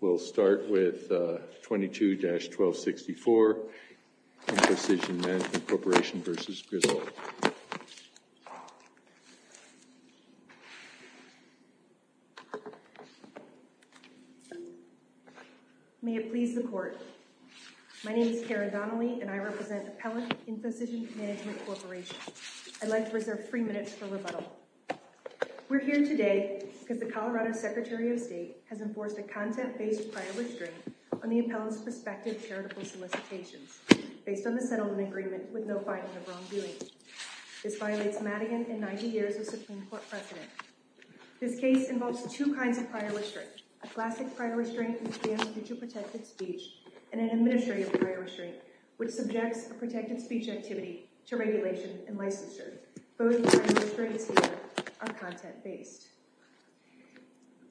We'll start with 22-1264, Infocision Management Corporation v. Griswold. May it please the court, my name is Kara Donnelly and I represent Appellate Infocision Management Corporation. I'd like to reserve three minutes for rebuttal. We're here today because the Colorado Secretary of State has enforced a content-based prior restraint on the appellant's prospective charitable solicitations based on the settlement agreement with no finding of wrongdoing. This violates Madigan and 90 years of Supreme Court precedent. This case involves two kinds of prior restraint, a classic prior restraint which stands due to protected speech and an administrative prior restraint which subjects a protected speech activity to regulation and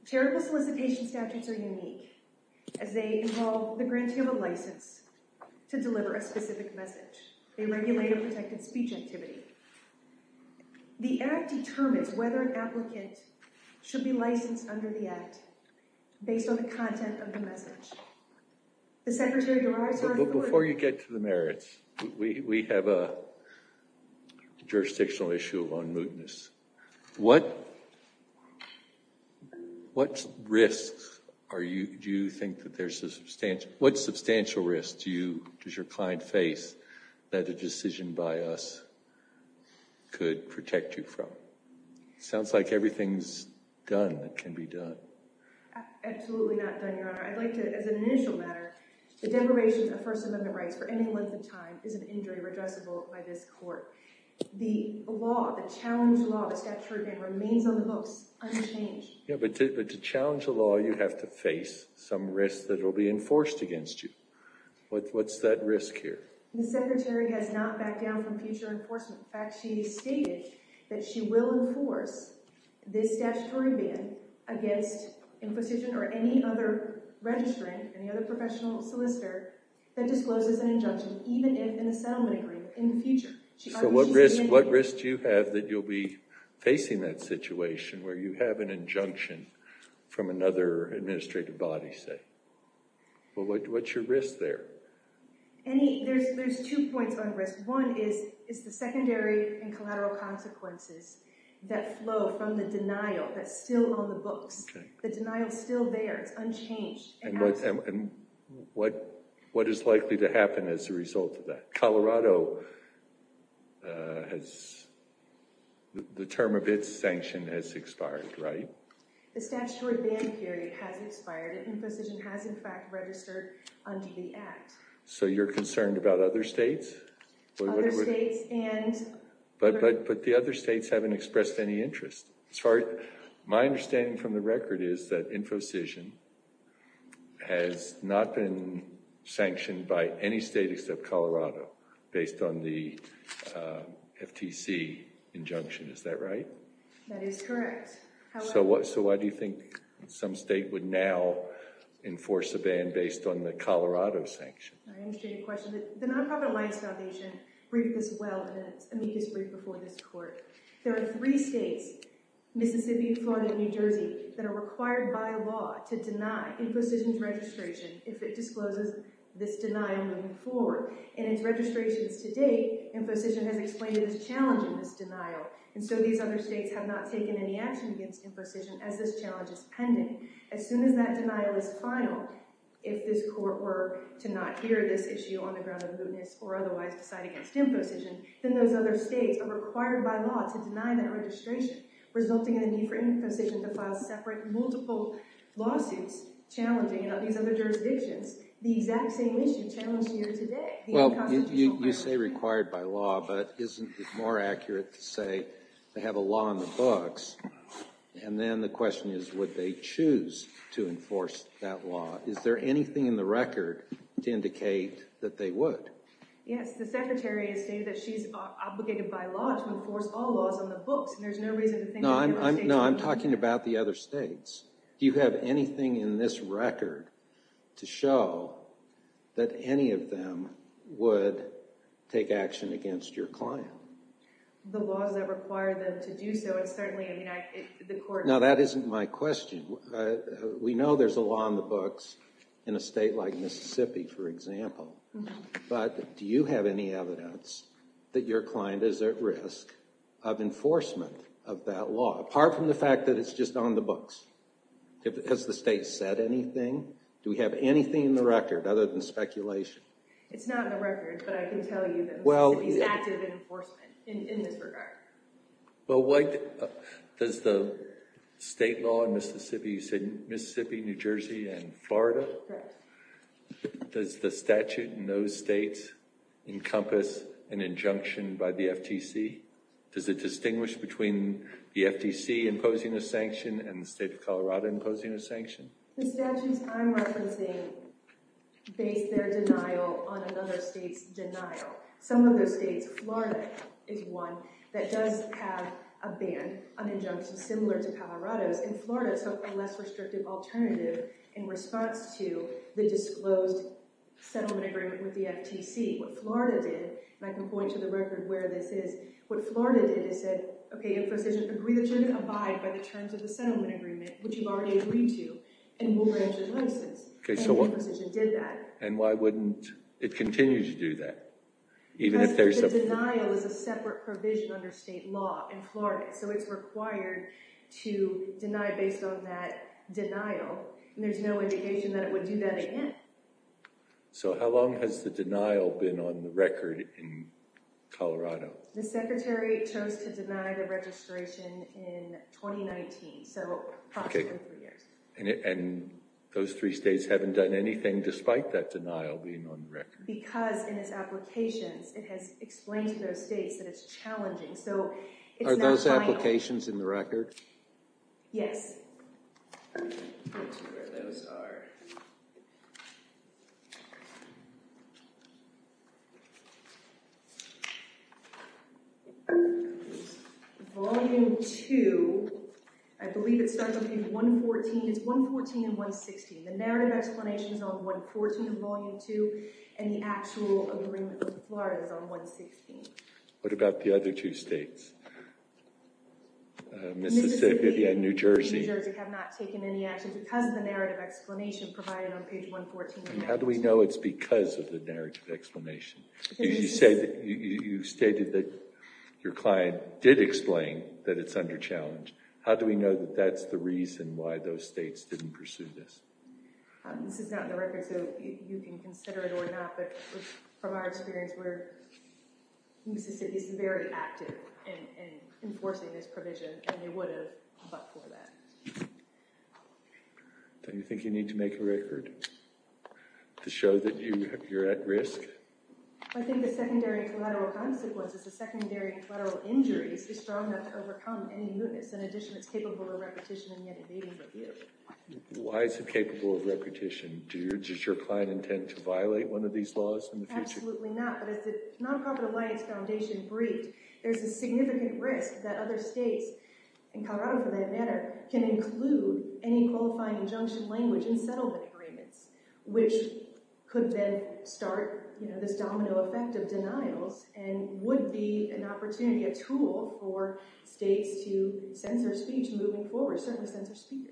charitable solicitation statutes are unique as they involve the granting of a license to deliver a specific message. They regulate a protected speech activity. The act determines whether an applicant should be licensed under the act based on the content of the message. The Secretary... Before you get to the merits, we have a jurisdictional issue on what risks are you... do you think that there's a substantial... what substantial risks do you... does your client face that a decision by us could protect you from? Sounds like everything's done that can be done. Absolutely not done, Your Honor. I'd like to, as an initial matter, the deprivation of First Amendment rights for any length of time is an injury redressable by this court. The law, the challenge law, the statute remains on the books, unchanged. Yeah, but to challenge the law, you have to face some risks that will be enforced against you. What's that risk here? The Secretary has not backed down from future enforcement. In fact, she stated that she will enforce this statutory ban against imposition or any other registrant, any other professional solicitor that discloses an injunction, even if in a settlement agreement in the future. So what risk... what risk do you have that you'll be facing that situation where you have an injunction from another administrative body, say? Well, what's your risk there? Any... there's two points on risk. One is the secondary and collateral consequences that flow from the denial that's still on the books. The denial is still there. It's unchanged. And what is likely to happen as a result of that? Colorado has... expired, right? The statutory ban period has expired. InfoCision has, in fact, registered under the Act. So you're concerned about other states? Other states and... But the other states haven't expressed any interest. As far... my understanding from the record is that InfoCision has not been sanctioned by any state except Colorado based on the FTC injunction. Is that right? That is correct. So what... so why do you think some state would now enforce a ban based on the Colorado sanction? I understand your question. The Nonprofit Alliance Foundation briefed us well in an amicus brief before this court. There are three states, Mississippi, Florida, and New Jersey, that are required by law to deny InfoCision's registration if it discloses this denial moving forward. In its registrations to date, InfoCision has explained its challenge in this denial. And so these other states have not taken any action against InfoCision as this challenge is pending. As soon as that denial is final, if this court were to not hear this issue on the ground of mootness or otherwise decide against InfoCision, then those other states are required by law to deny that registration, resulting in the need for InfoCision to file separate multiple lawsuits challenging these other jurisdictions the exact same issue challenged here today. Well, you say required by law, but isn't it more accurate to say they have a law in the books? And then the question is, would they choose to enforce that law? Is there anything in the record to indicate that they would? Yes, the Secretary has stated that she's obligated by law to enforce all laws on the books, and there's no reason to think... No, I'm talking about the other states. Do you have anything in this record to show that any of them would take action against your client? The laws that require them to do so, it's certainly... Now, that isn't my question. We know there's a law on the books in a state like Mississippi, for example, but do you have any evidence that your client is at risk of enforcement of that law, apart from the fact that it's just on the books? Has the state said anything? Do we have anything in the record other than speculation? It's not in the record, but I can tell you that Mississippi is active in enforcement in this regard. Well, does the state law in Mississippi, you said Mississippi, New Jersey, and Florida, does the statute in those states encompass an injunction by the FTC? Does it encompass an injunction by the FTC? Does it encompass an injunction by the FTC? Does it encompass an injunction by the FTC? The statutes I'm referencing base their denial on another state's denial. Some of those states, Florida is one that does have a ban, an injunction similar to Colorado's, and Florida took a less restrictive alternative in response to the disclosed settlement agreement with the FTC. What Florida did, and I can point to the record where this is, what Florida did is said, okay, if the position agreed that you're going to abide by the terms of the settlement agreement, which you've already agreed to, then we'll grant your nuisance, and the position did that. And why wouldn't it continue to do that? Because the denial is a separate provision under state law in Florida, so it's required to deny based on that denial, and there's no indication that it would do that again. So how long has the denial been on the record in Colorado? The secretary chose to deny the registration in 2019, so approximately three years. And those three states haven't done anything despite that denial being on the record? Because in its applications, it has explained to those states that it's challenging, so it's not final. Are those two states? Volume two, I believe it starts on page 114. It's 114 and 116. The narrative explanation is on 114 of volume two, and the actual agreement with Florida is on 116. What about the other two states? Mississippi and New Jersey have not taken any action because of the narrative explanation provided on page 114. How do we know it's because of the narrative explanation? You stated that your client did explain that it's under challenge. How do we know that that's the reason why those states didn't pursue this? This is not in the record, so you can consider it or not, but from our experience, Mississippi is very active in enforcing this provision, and they would have fought for that. Don't you think you need to make a record to show that you're at risk? I think the secondary collateral consequences, the secondary collateral injuries, is strong enough to overcome any mootness. In addition, it's capable of repetition and yet invading the view. Why is it capable of repetition? Does your client intend to violate one of these laws in the future? Absolutely not, but as the Nonprofit Alliance Foundation briefed, there's a significant risk that other states, in Colorado for that matter, can include any qualifying injunction language in settlement agreements, which could then start this domino effect of denials and would be an opportunity, a tool for states to censor speech moving forward, certainly censor speech.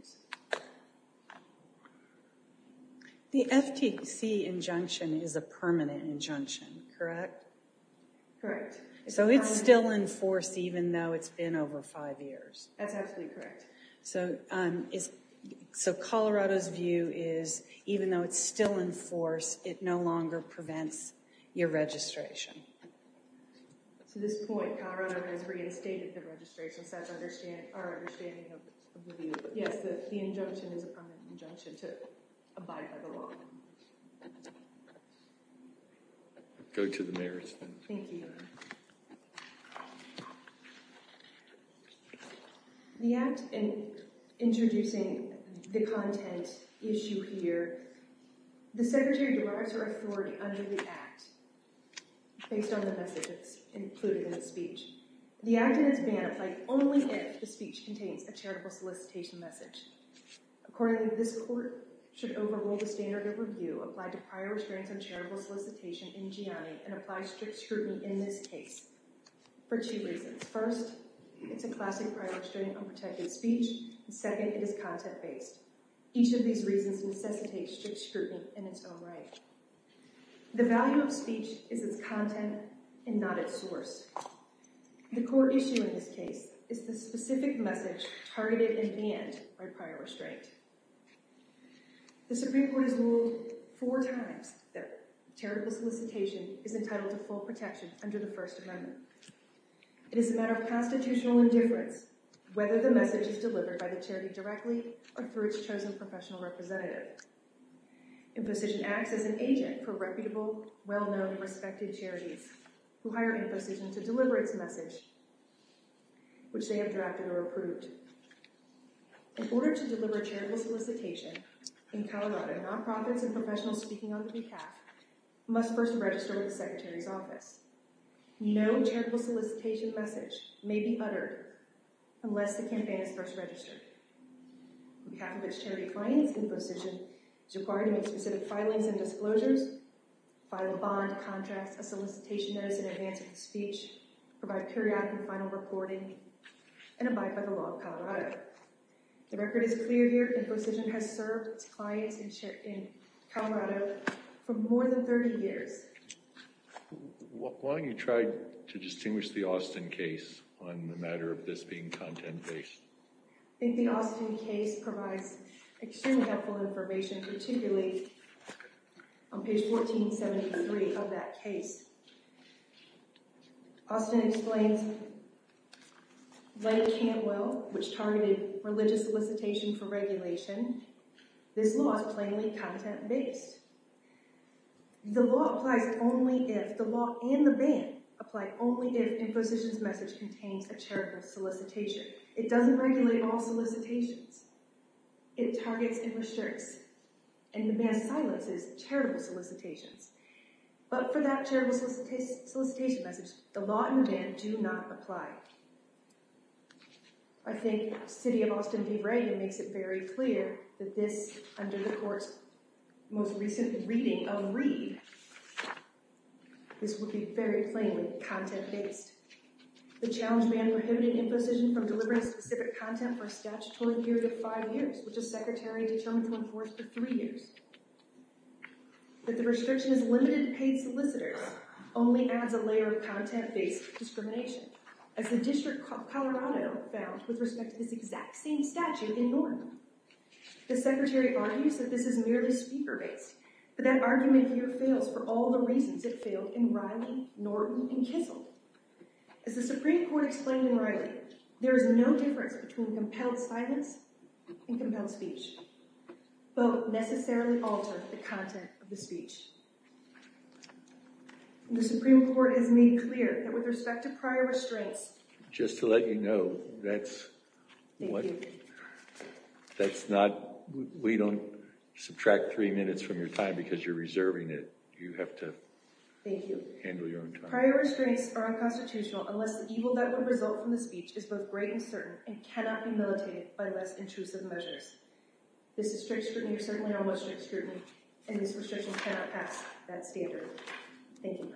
The FTC injunction is a permanent injunction, correct? Correct. So it's still in force even though it's been over five years? That's absolutely correct. So Colorado's view is even though it's still in force, it no longer prevents your registration? At this point, Colorado has reinstated the registration, so that's our understanding of the view. Yes, the injunction is a permanent injunction to abide by the law. Go to the mayor's. Thank you. The act in introducing the content issue here, the secretary derives her authority under the act based on the message that's included in the speech. The act is banned only if the speech contains a charitable solicitation message. Accordingly, this court should overrule the standard of review applied to prior experience on charitable solicitation in GIANI and apply strict scrutiny in this case for two reasons. First, it's a classic prior experience unprotected speech. Second, it is content-based. Each of these reasons necessitates strict scrutiny in its own right. The value of speech is its content and not its source. The core issue in this case is the specific message targeted in the end by prior restraint. The Supreme Court has ruled four times that charitable solicitation is entitled to full protection under the First Amendment. It is a matter of constitutional indifference whether the message is delivered by the charity directly or through its chosen professional representative. Imposition acts as an agent for reputable, well-known, respected charities who hire imposition to deliver its services, which they have drafted or approved. In order to deliver charitable solicitation, in Colorado, non-profits and professionals speaking under the act must first register with the Secretary's office. No charitable solicitation message may be uttered unless the campaign is first registered. On behalf of its charity clients, imposition is required to make specific filings and disclosures, file a bond contract, a solicitation notice in advance of the speech, provide periodic and final reporting, and abide by the law of Colorado. The record is clear here. Imposition has served clients in Colorado for more than 30 years. Why don't you try to distinguish the Austin case on the matter of this being content-based? I think the Austin case provides extremely helpful information, particularly on page 1473 of that case. Austin explains, like Cantwell, which targeted religious solicitation for regulation, this law is plainly content-based. The law and the ban apply only if imposition's message contains a charitable solicitation. It doesn't regulate all solicitations. It targets and restricts, and the ban silences, charitable solicitations. But for that charitable solicitation message, the law and the ban do not apply. I think the city of Austin-de-Brieu makes it very clear that this, under the court's most recent reading of Reed, this would be very plainly content-based. The challenge ban prohibited imposition from delivering specific content for a statutory period of five years, which the secretary determined to enforce for three years. But the restriction is limited to paid solicitors, only adds a layer of content-based discrimination, as the District of Colorado found with respect to this exact same statute in Norton. The secretary argues that this is merely speaker-based, but that argument here fails for all the reasons it failed in Riley, Norton, and Kissel. As the Supreme Court explained in Riley, there is no difference between compelled silence and compelled speech. Both necessarily alter the content of the speech. The Supreme Court has made clear that with respect to prior restraints, just to let you know, that's what, that's not, we don't subtract three minutes from your time because you're reserving it, you have to handle your own time. Prior restraints are unconstitutional unless the result from the speech is both great and certain and cannot be militated by less intrusive measures. This is strict scrutiny or certainly not what strict scrutiny and this restriction cannot pass that standard. Thank you.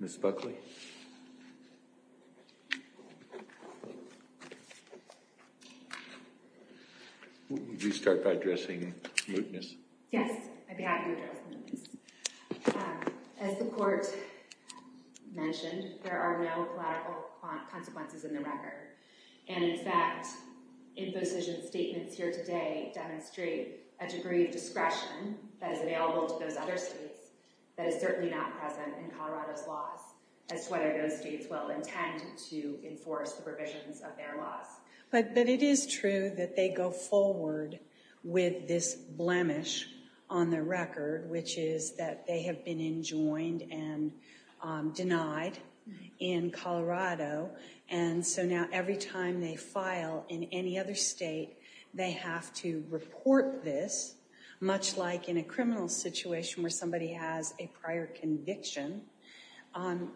Ms. Buckley. Would you start by addressing mootness? Yes, I'd be happy to address mootness. As the court mentioned, there are no collateral consequences in the record, and in fact, imposition statements here today demonstrate a degree of discretion that is available to those other states that is certainly not present in whether those states will intend to enforce the provisions of their laws. But it is true that they go forward with this blemish on the record, which is that they have been enjoined and denied in Colorado. And so now every time they file in any other state, they have to report this, much like in a criminal situation where somebody has a prior conviction.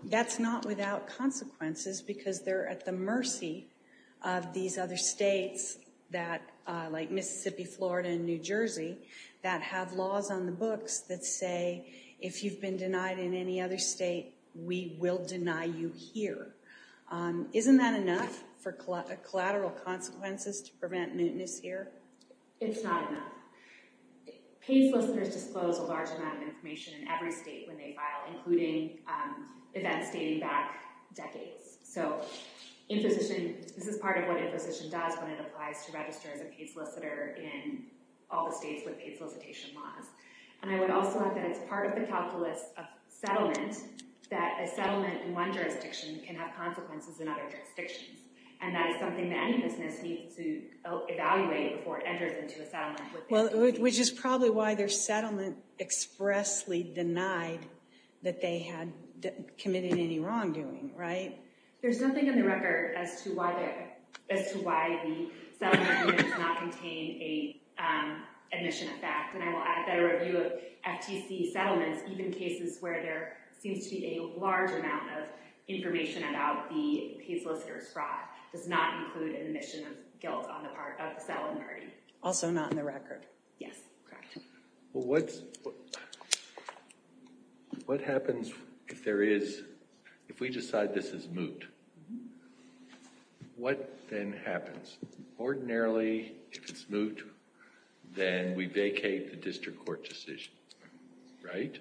That's not without consequences because they're at the mercy of these other states like Mississippi, Florida, and New Jersey that have laws on the books that say, if you've been denied in any other state, we will deny you here. Isn't that enough for collateral consequences to prevent mootness here? It's not enough. Paid solicitors disclose a large amount of information in every state when they file, including events dating back decades. So imposition, this is part of what imposition does when it applies to register as a paid solicitor in all the states with paid solicitation laws. And I would also add that it's part of the calculus of settlement that a settlement in one jurisdiction can have consequences in other jurisdictions. And that is something that businesses need to evaluate before it enters into a settlement. Well, which is probably why their settlement expressly denied that they had committed any wrongdoing, right? There's nothing in the record as to why the settlement does not contain an admission effect. And I will add that a review of FTC settlements, even cases where there seems to be a large amount of information about the paid solicitor's fraud does not include an admission of guilt on the part of the settlement party. Also not in the record. Yes, correct. Well, what happens if we decide this is moot? What then happens? Ordinarily, if it's moot, then we vacate the district court decision, right?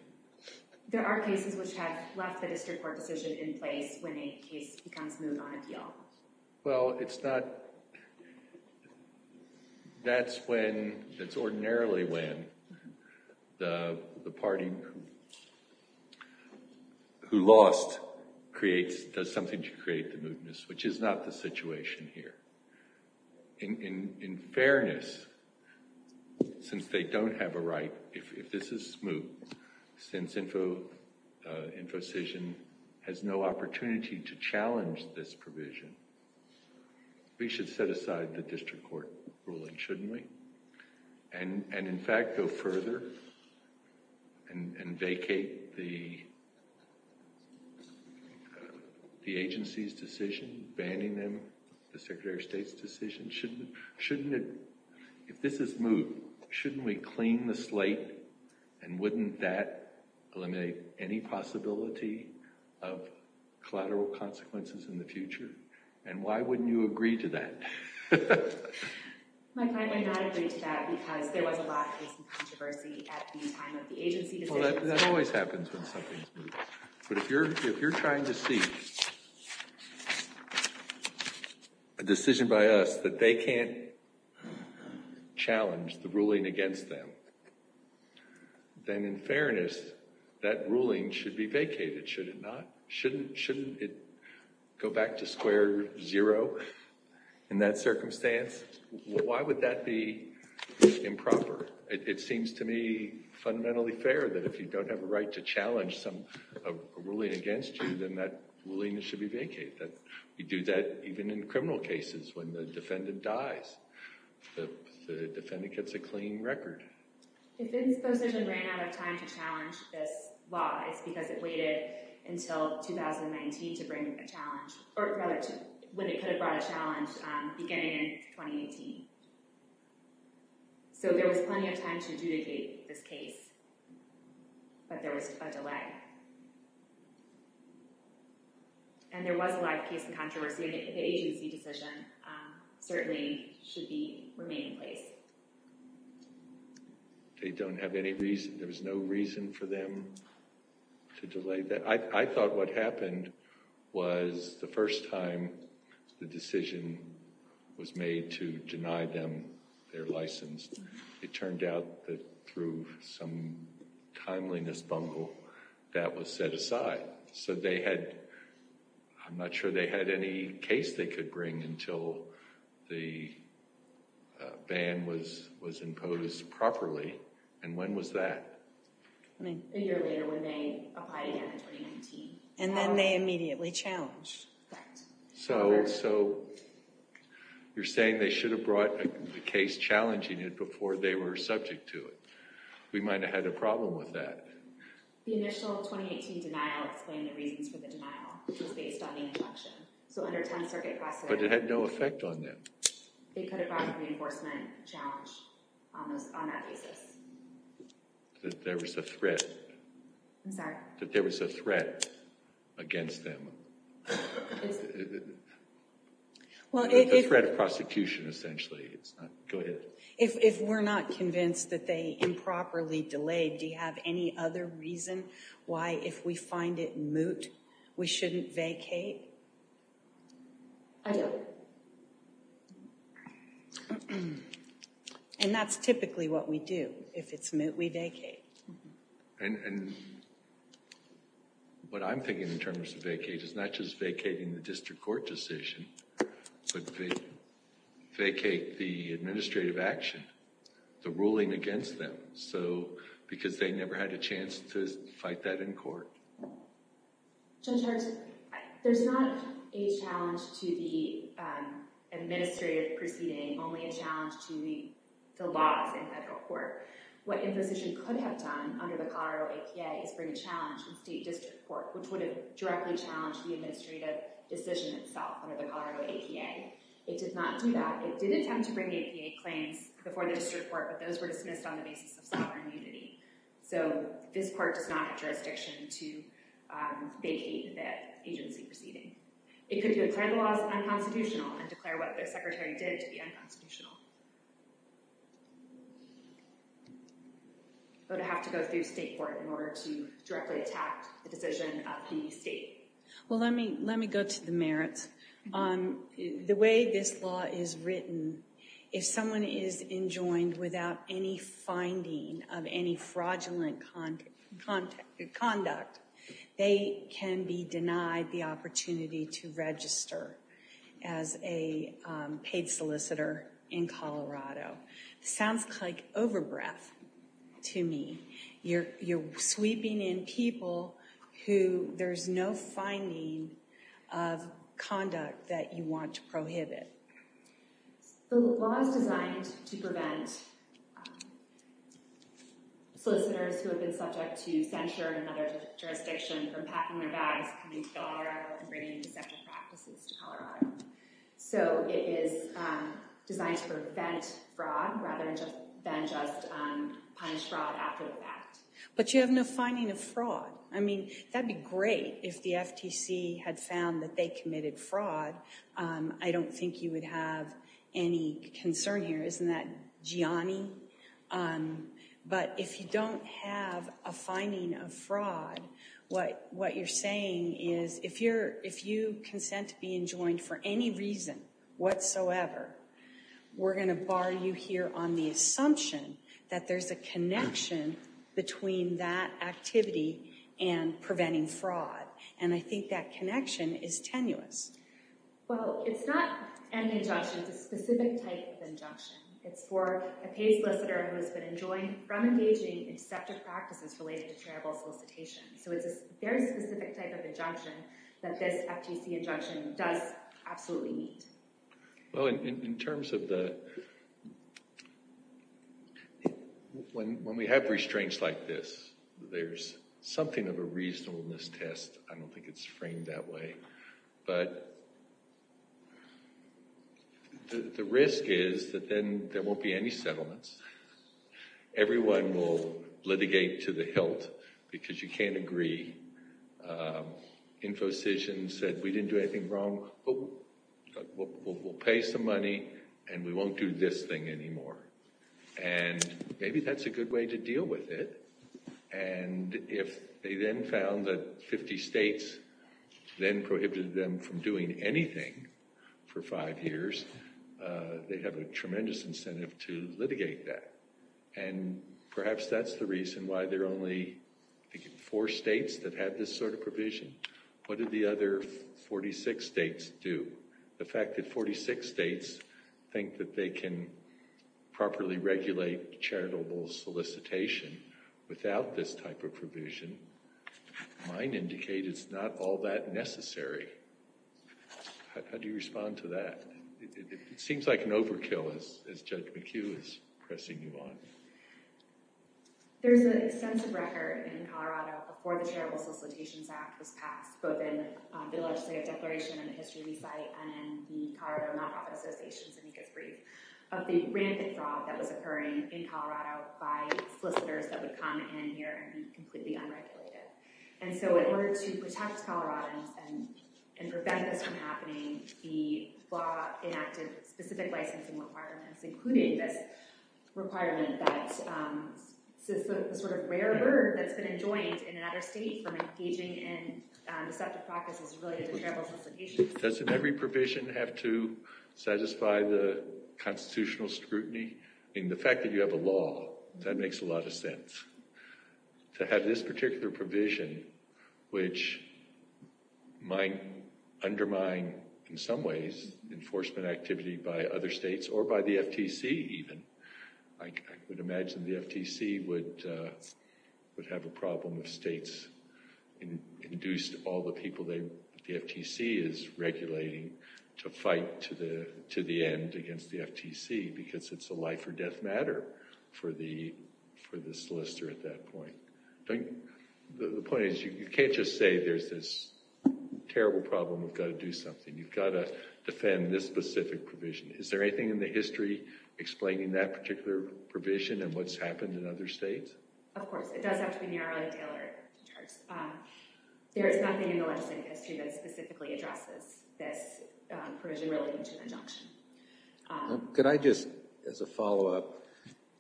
There are cases which have left the district court decision in place when a case becomes moot on appeal. Well, that's ordinarily when the party who lost does something to create the mootness, which is not the situation here. In fairness, since they don't have a right, if this is moot, since InfoCision has no opportunity to challenge this provision, we should set aside the district court ruling, shouldn't we? And in fact, go further and vacate the agency's decision, banning them, the Secretary of State's decision. Shouldn't it, if this is moot, shouldn't we clean the slate and wouldn't that eliminate any possibility of collateral consequences in the future? And why wouldn't you agree to that? My client might not agree to that because there was a lot of controversy at the time of the agency decision. That always happens when something's moot. But if you're trying to see a decision by us that they can't challenge the ruling against them, then in fairness, that ruling should be vacated, should it not? Shouldn't it go back to square zero in that circumstance? Why would that be improper? It seems to me fundamentally fair that if you don't have a right to challenge some ruling against you, then that ruling should be vacated. We do that even in criminal cases when the defendant dies, the defendant gets a clean record. If InfoCision ran out of time to challenge this law, it's because it waited until 2019 to bring a challenge, or rather when it could have brought a challenge beginning in 2018. So there was plenty of time to adjudicate this case, but there was a delay. And there was a live case in controversy, and the agency decision certainly should be remaining in place. They don't have any reason, there was no reason for them to delay that. I thought what happened was the first time the decision was made to deny them their license, it turned out that some timeliness bungle that was set aside. So they had, I'm not sure they had any case they could bring until the ban was imposed properly, and when was that? A year later when they applied again in 2019. And then they immediately challenged that. So you're saying they should have brought a case challenging it before they were subject to it. We might have had a problem with that. The initial 2018 denial explained the reasons for the denial. It was based on the injunction. So under 10th Circuit Procedure. But it had no effect on them. It could have brought a reinforcement challenge on that basis. That there was a threat. I'm sorry? That there was a threat against them. Well, if... A threat of prosecution, essentially. Go ahead. If we're not convinced that they improperly delayed, do you have any other reason why if we find it moot, we shouldn't vacate? I don't. And that's typically what we do. If it's moot, we vacate. And what I'm thinking in terms of vacate is not just vacating the district court decision, but vacate the administrative action. The ruling against them. Because they never had a chance to fight that in court. There's not a challenge to the administrative proceeding. Only a challenge to the laws in federal court. What imposition could have done under the Colorado APA is bring a challenge in state district court, which would have directly challenged the administrative decision itself of the Colorado APA. It did not do that. It did attempt to bring APA claims before the district court, but those were dismissed on the basis of sovereign unity. So this court does not have jurisdiction to vacate that agency proceeding. It could declare the laws unconstitutional and declare what their secretary did to be unconstitutional. But it would have to go through state court in order to directly attack the decision of the state. Well, let me go to the merits. The way this law is written, if someone is enjoined without any finding of any fraudulent conduct, they can be denied the opportunity to register as a paid solicitor in Colorado. Sounds like over breath to me. You're sweeping in people who there's no finding of conduct that you want to prohibit. The law is designed to prevent solicitors who have been subject to censure in another jurisdiction from packing their bags, coming to Colorado, and bringing deceptive practices to Colorado. So it is designed to prevent fraud rather than just punish fraud after the fact. But you have no finding of fraud. I mean, that'd be great if the FTC had found that they committed fraud. I don't think you would have any concern here. Isn't that Gianni? But if you don't have a finding of fraud, what you're saying is if you consent to be enjoined for any reason whatsoever, we're going to bar you here on the assumption that there's a connection between that activity and preventing fraud. And I think that connection is tenuous. Well, it's not an injunction. It's a specific type of injunction. It's for a paid solicitor who has been enjoined from engaging in deceptive practices related to charitable solicitation. So it's a very specific type of injunction that this FTC injunction does absolutely need. Well, in terms of the—when we have restraints like this, there's something of a reasonableness test. I don't think it's framed that way. But the risk is that then there won't be any settlements. Everyone will litigate to the hilt because you can't agree. InfoCision said, we didn't do anything wrong, but we'll pay some money and we won't do this thing anymore. And maybe that's a good way to deal with it. And if they then found that 50 states then prohibited them from doing anything for five years, they'd have a tremendous incentive to litigate that. And perhaps that's the reason why there are only, I think, four states that have this sort of provision. What do the other 46 states do? The fact that 46 states think that they can properly regulate charitable solicitation without this type of provision might indicate it's not all that necessary. How do you respond to that? It seems like an overkill, as Judge McHugh is pressing you on. There's an extensive record in Colorado before the Charitable Solicitations Act was passed, both in the legislative declaration and the history we cite and the Colorado nonprofit associations, to make it brief, of the rampant fraud that was occurring in Colorado by solicitors that would come in here and completely unregulated. And so in order to protect Coloradans and prevent this from happening, the law enacted specific licensing requirements, including this requirement that the sort of rare bird that's been enjoined in another state from engaging in deceptive practices related to charitable solicitation. Doesn't every provision have to satisfy the constitutional scrutiny? I mean, the fact that you have a law, that makes a lot of sense. To have this particular provision, which might undermine, in some ways, enforcement activity by other states or by the FTC even. I would imagine the FTC would have a problem if states induced all the people the FTC is regulating to fight to the end against the FTC because it's a life or death matter for the solicitor at that point. The point is, you can't just say there's this terrible problem, we've got to do something. You've got to defend this specific provision. Is there anything in the history explaining that particular provision and what's happened in other states? Of course. It does have to be narrowly tailored. There is nothing in the legislative history that specifically addresses this provision related to injunction. Could I just, as a follow up,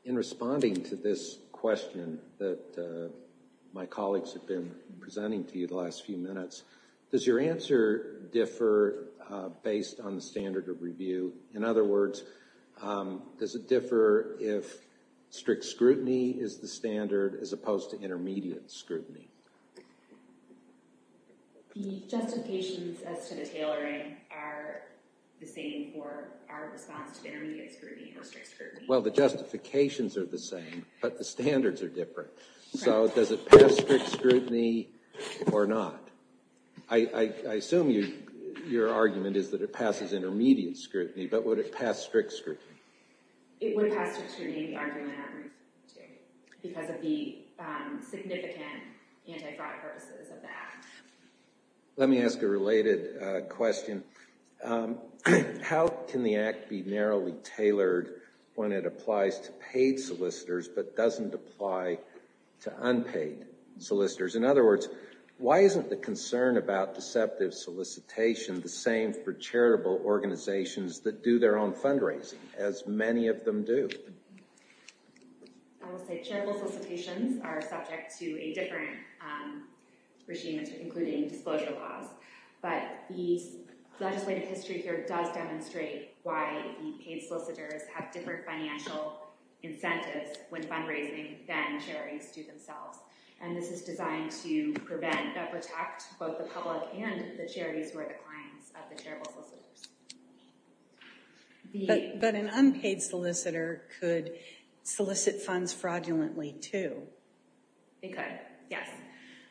in responding to this question that my colleagues have been presenting to you the last few minutes, does your answer differ based on the standard of review? In other words, does it differ if strict scrutiny is the standard as opposed to intermediate scrutiny? The justifications as to the tailoring are the same for our response to intermediate scrutiny or strict scrutiny. Well, the justifications are the same, but the standards are different. So does it pass strict scrutiny or not? I assume your argument is that it passes intermediate scrutiny, but would it pass strict scrutiny? It would pass strict scrutiny because of the significant anti-fraud purposes of the Act. Let me ask a related question. How can the Act be narrowly tailored when it applies to paid solicitors but doesn't apply to unpaid solicitors? In other words, why isn't the concern about deceptive solicitation the same for charitable organizations that do their own fundraising, as many of them do? I would say charitable solicitations are subject to a different regime, including disclosure laws. But the legislative history here does demonstrate why the paid solicitors have different financial incentives when fundraising than charities do themselves. And this is designed to prevent and protect both the public and the charities who are the clients of the charitable solicitors. But an unpaid solicitor could solicit funds fraudulently, too. They could, yes.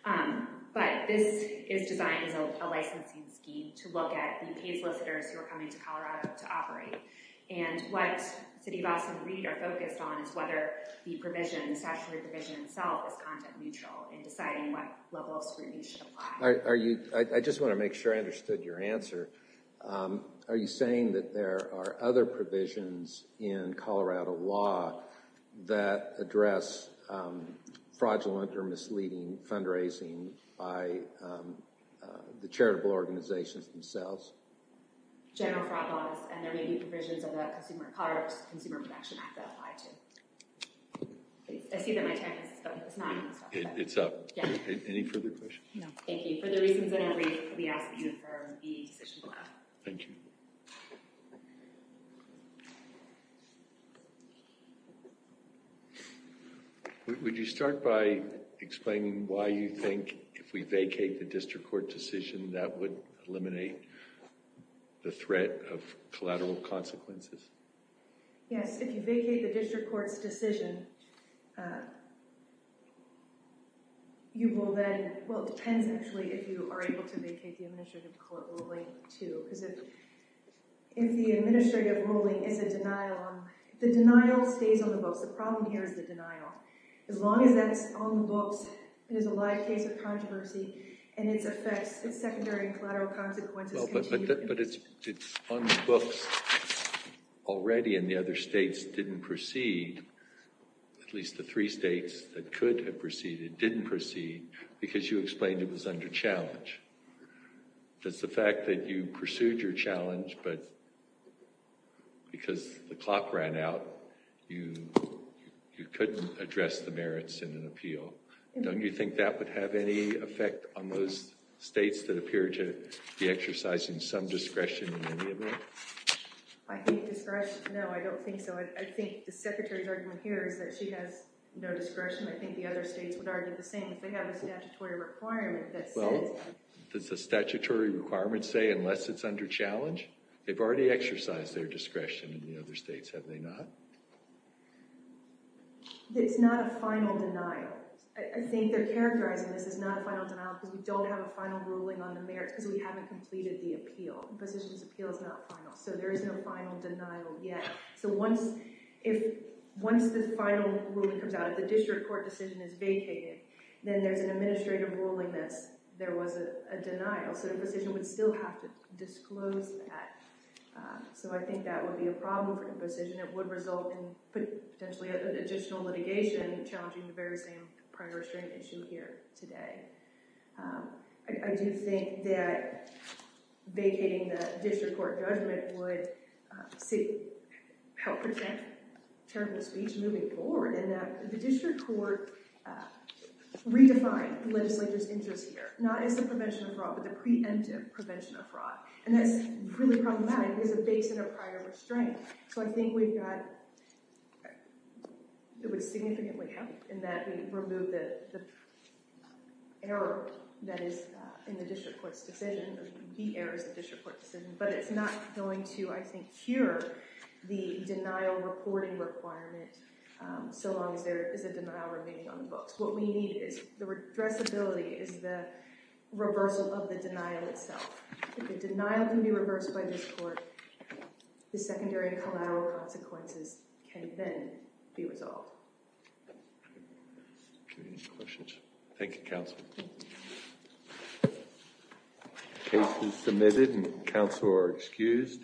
But this is designed as a licensing scheme to look at the paid solicitors who are coming to Colorado to operate. And what Siddivas and Reed are focused on is whether the provision, the statutory provision itself, is content neutral in deciding what level of scrutiny should apply. I just want to make sure I understood your answer. Are you saying that there are other provisions in Colorado law that address fraudulent or misleading fundraising by the charitable organizations themselves? General fraud laws. And there may be provisions of the Colorado Consumer Protection Act that apply, too. I see that my time is up. It's not on the clock. It's up. Any further questions? Thank you. For the reasons I don't read, we ask that you affirm the decision to allow. Thank you. Would you start by explaining why you think if we vacate the district court decision that would eliminate the threat of collateral consequences? Yes. If you vacate the district court's decision, you will then, well, it depends, actually, if you are able to vacate the administrative court ruling, too. Because if the administrative ruling is a denial, the denial stays on the books. The problem here is the denial. As long as that's on the books, it is a live case of controversy. And its effects, its secondary and collateral consequences continue. But it's on the books already. And the other states didn't proceed. At least the three states that could have proceeded didn't proceed because you explained it was under challenge. That's the fact that you pursued your challenge. But because the clock ran out, you couldn't address the merits in an appeal. Don't you think that would have any effect on those states that appear to be exercising some discretion in the appeal? I think discretion, no, I don't think so. I think the Secretary's argument here is that she has no discretion. I think the other states would argue the same. If they have a statutory requirement that says that. Well, does the statutory requirement say unless it's under challenge? They've already exercised their discretion in the other states, have they not? It's not a final denial. I think they're characterizing this as not a final denial because we don't have a final ruling on the merits because we haven't completed the appeal. The position's appeal is not final. So there is no final denial yet. So once the final ruling comes out, if the district court decision is vacated, then there's an administrative ruling that there was a denial. So the position would still have to disclose that. So I think that would be a problem for the position. It would result in potentially additional litigation challenging the very same prior restraint issue here today. I do think that vacating the district court judgment would help prevent terrible speech moving forward and that the district court redefined the legislature's interest here, not as the prevention of fraud, but the preemptive prevention of fraud. And that's really problematic because it's based on a prior restraint. So I think we've got—it would significantly help in that we remove the error that is in the district court's decision—the error is the district court's decision—but it's not going to, I think, cure the denial reporting requirement so long as there is a denial remaining on the books. What we need is—the addressability is the reversal of the denial itself. If the denial can be reversed by this court, the secondary and collateral consequences can then be resolved. Any questions? Thank you, counsel. Case is submitted and counsel are excused.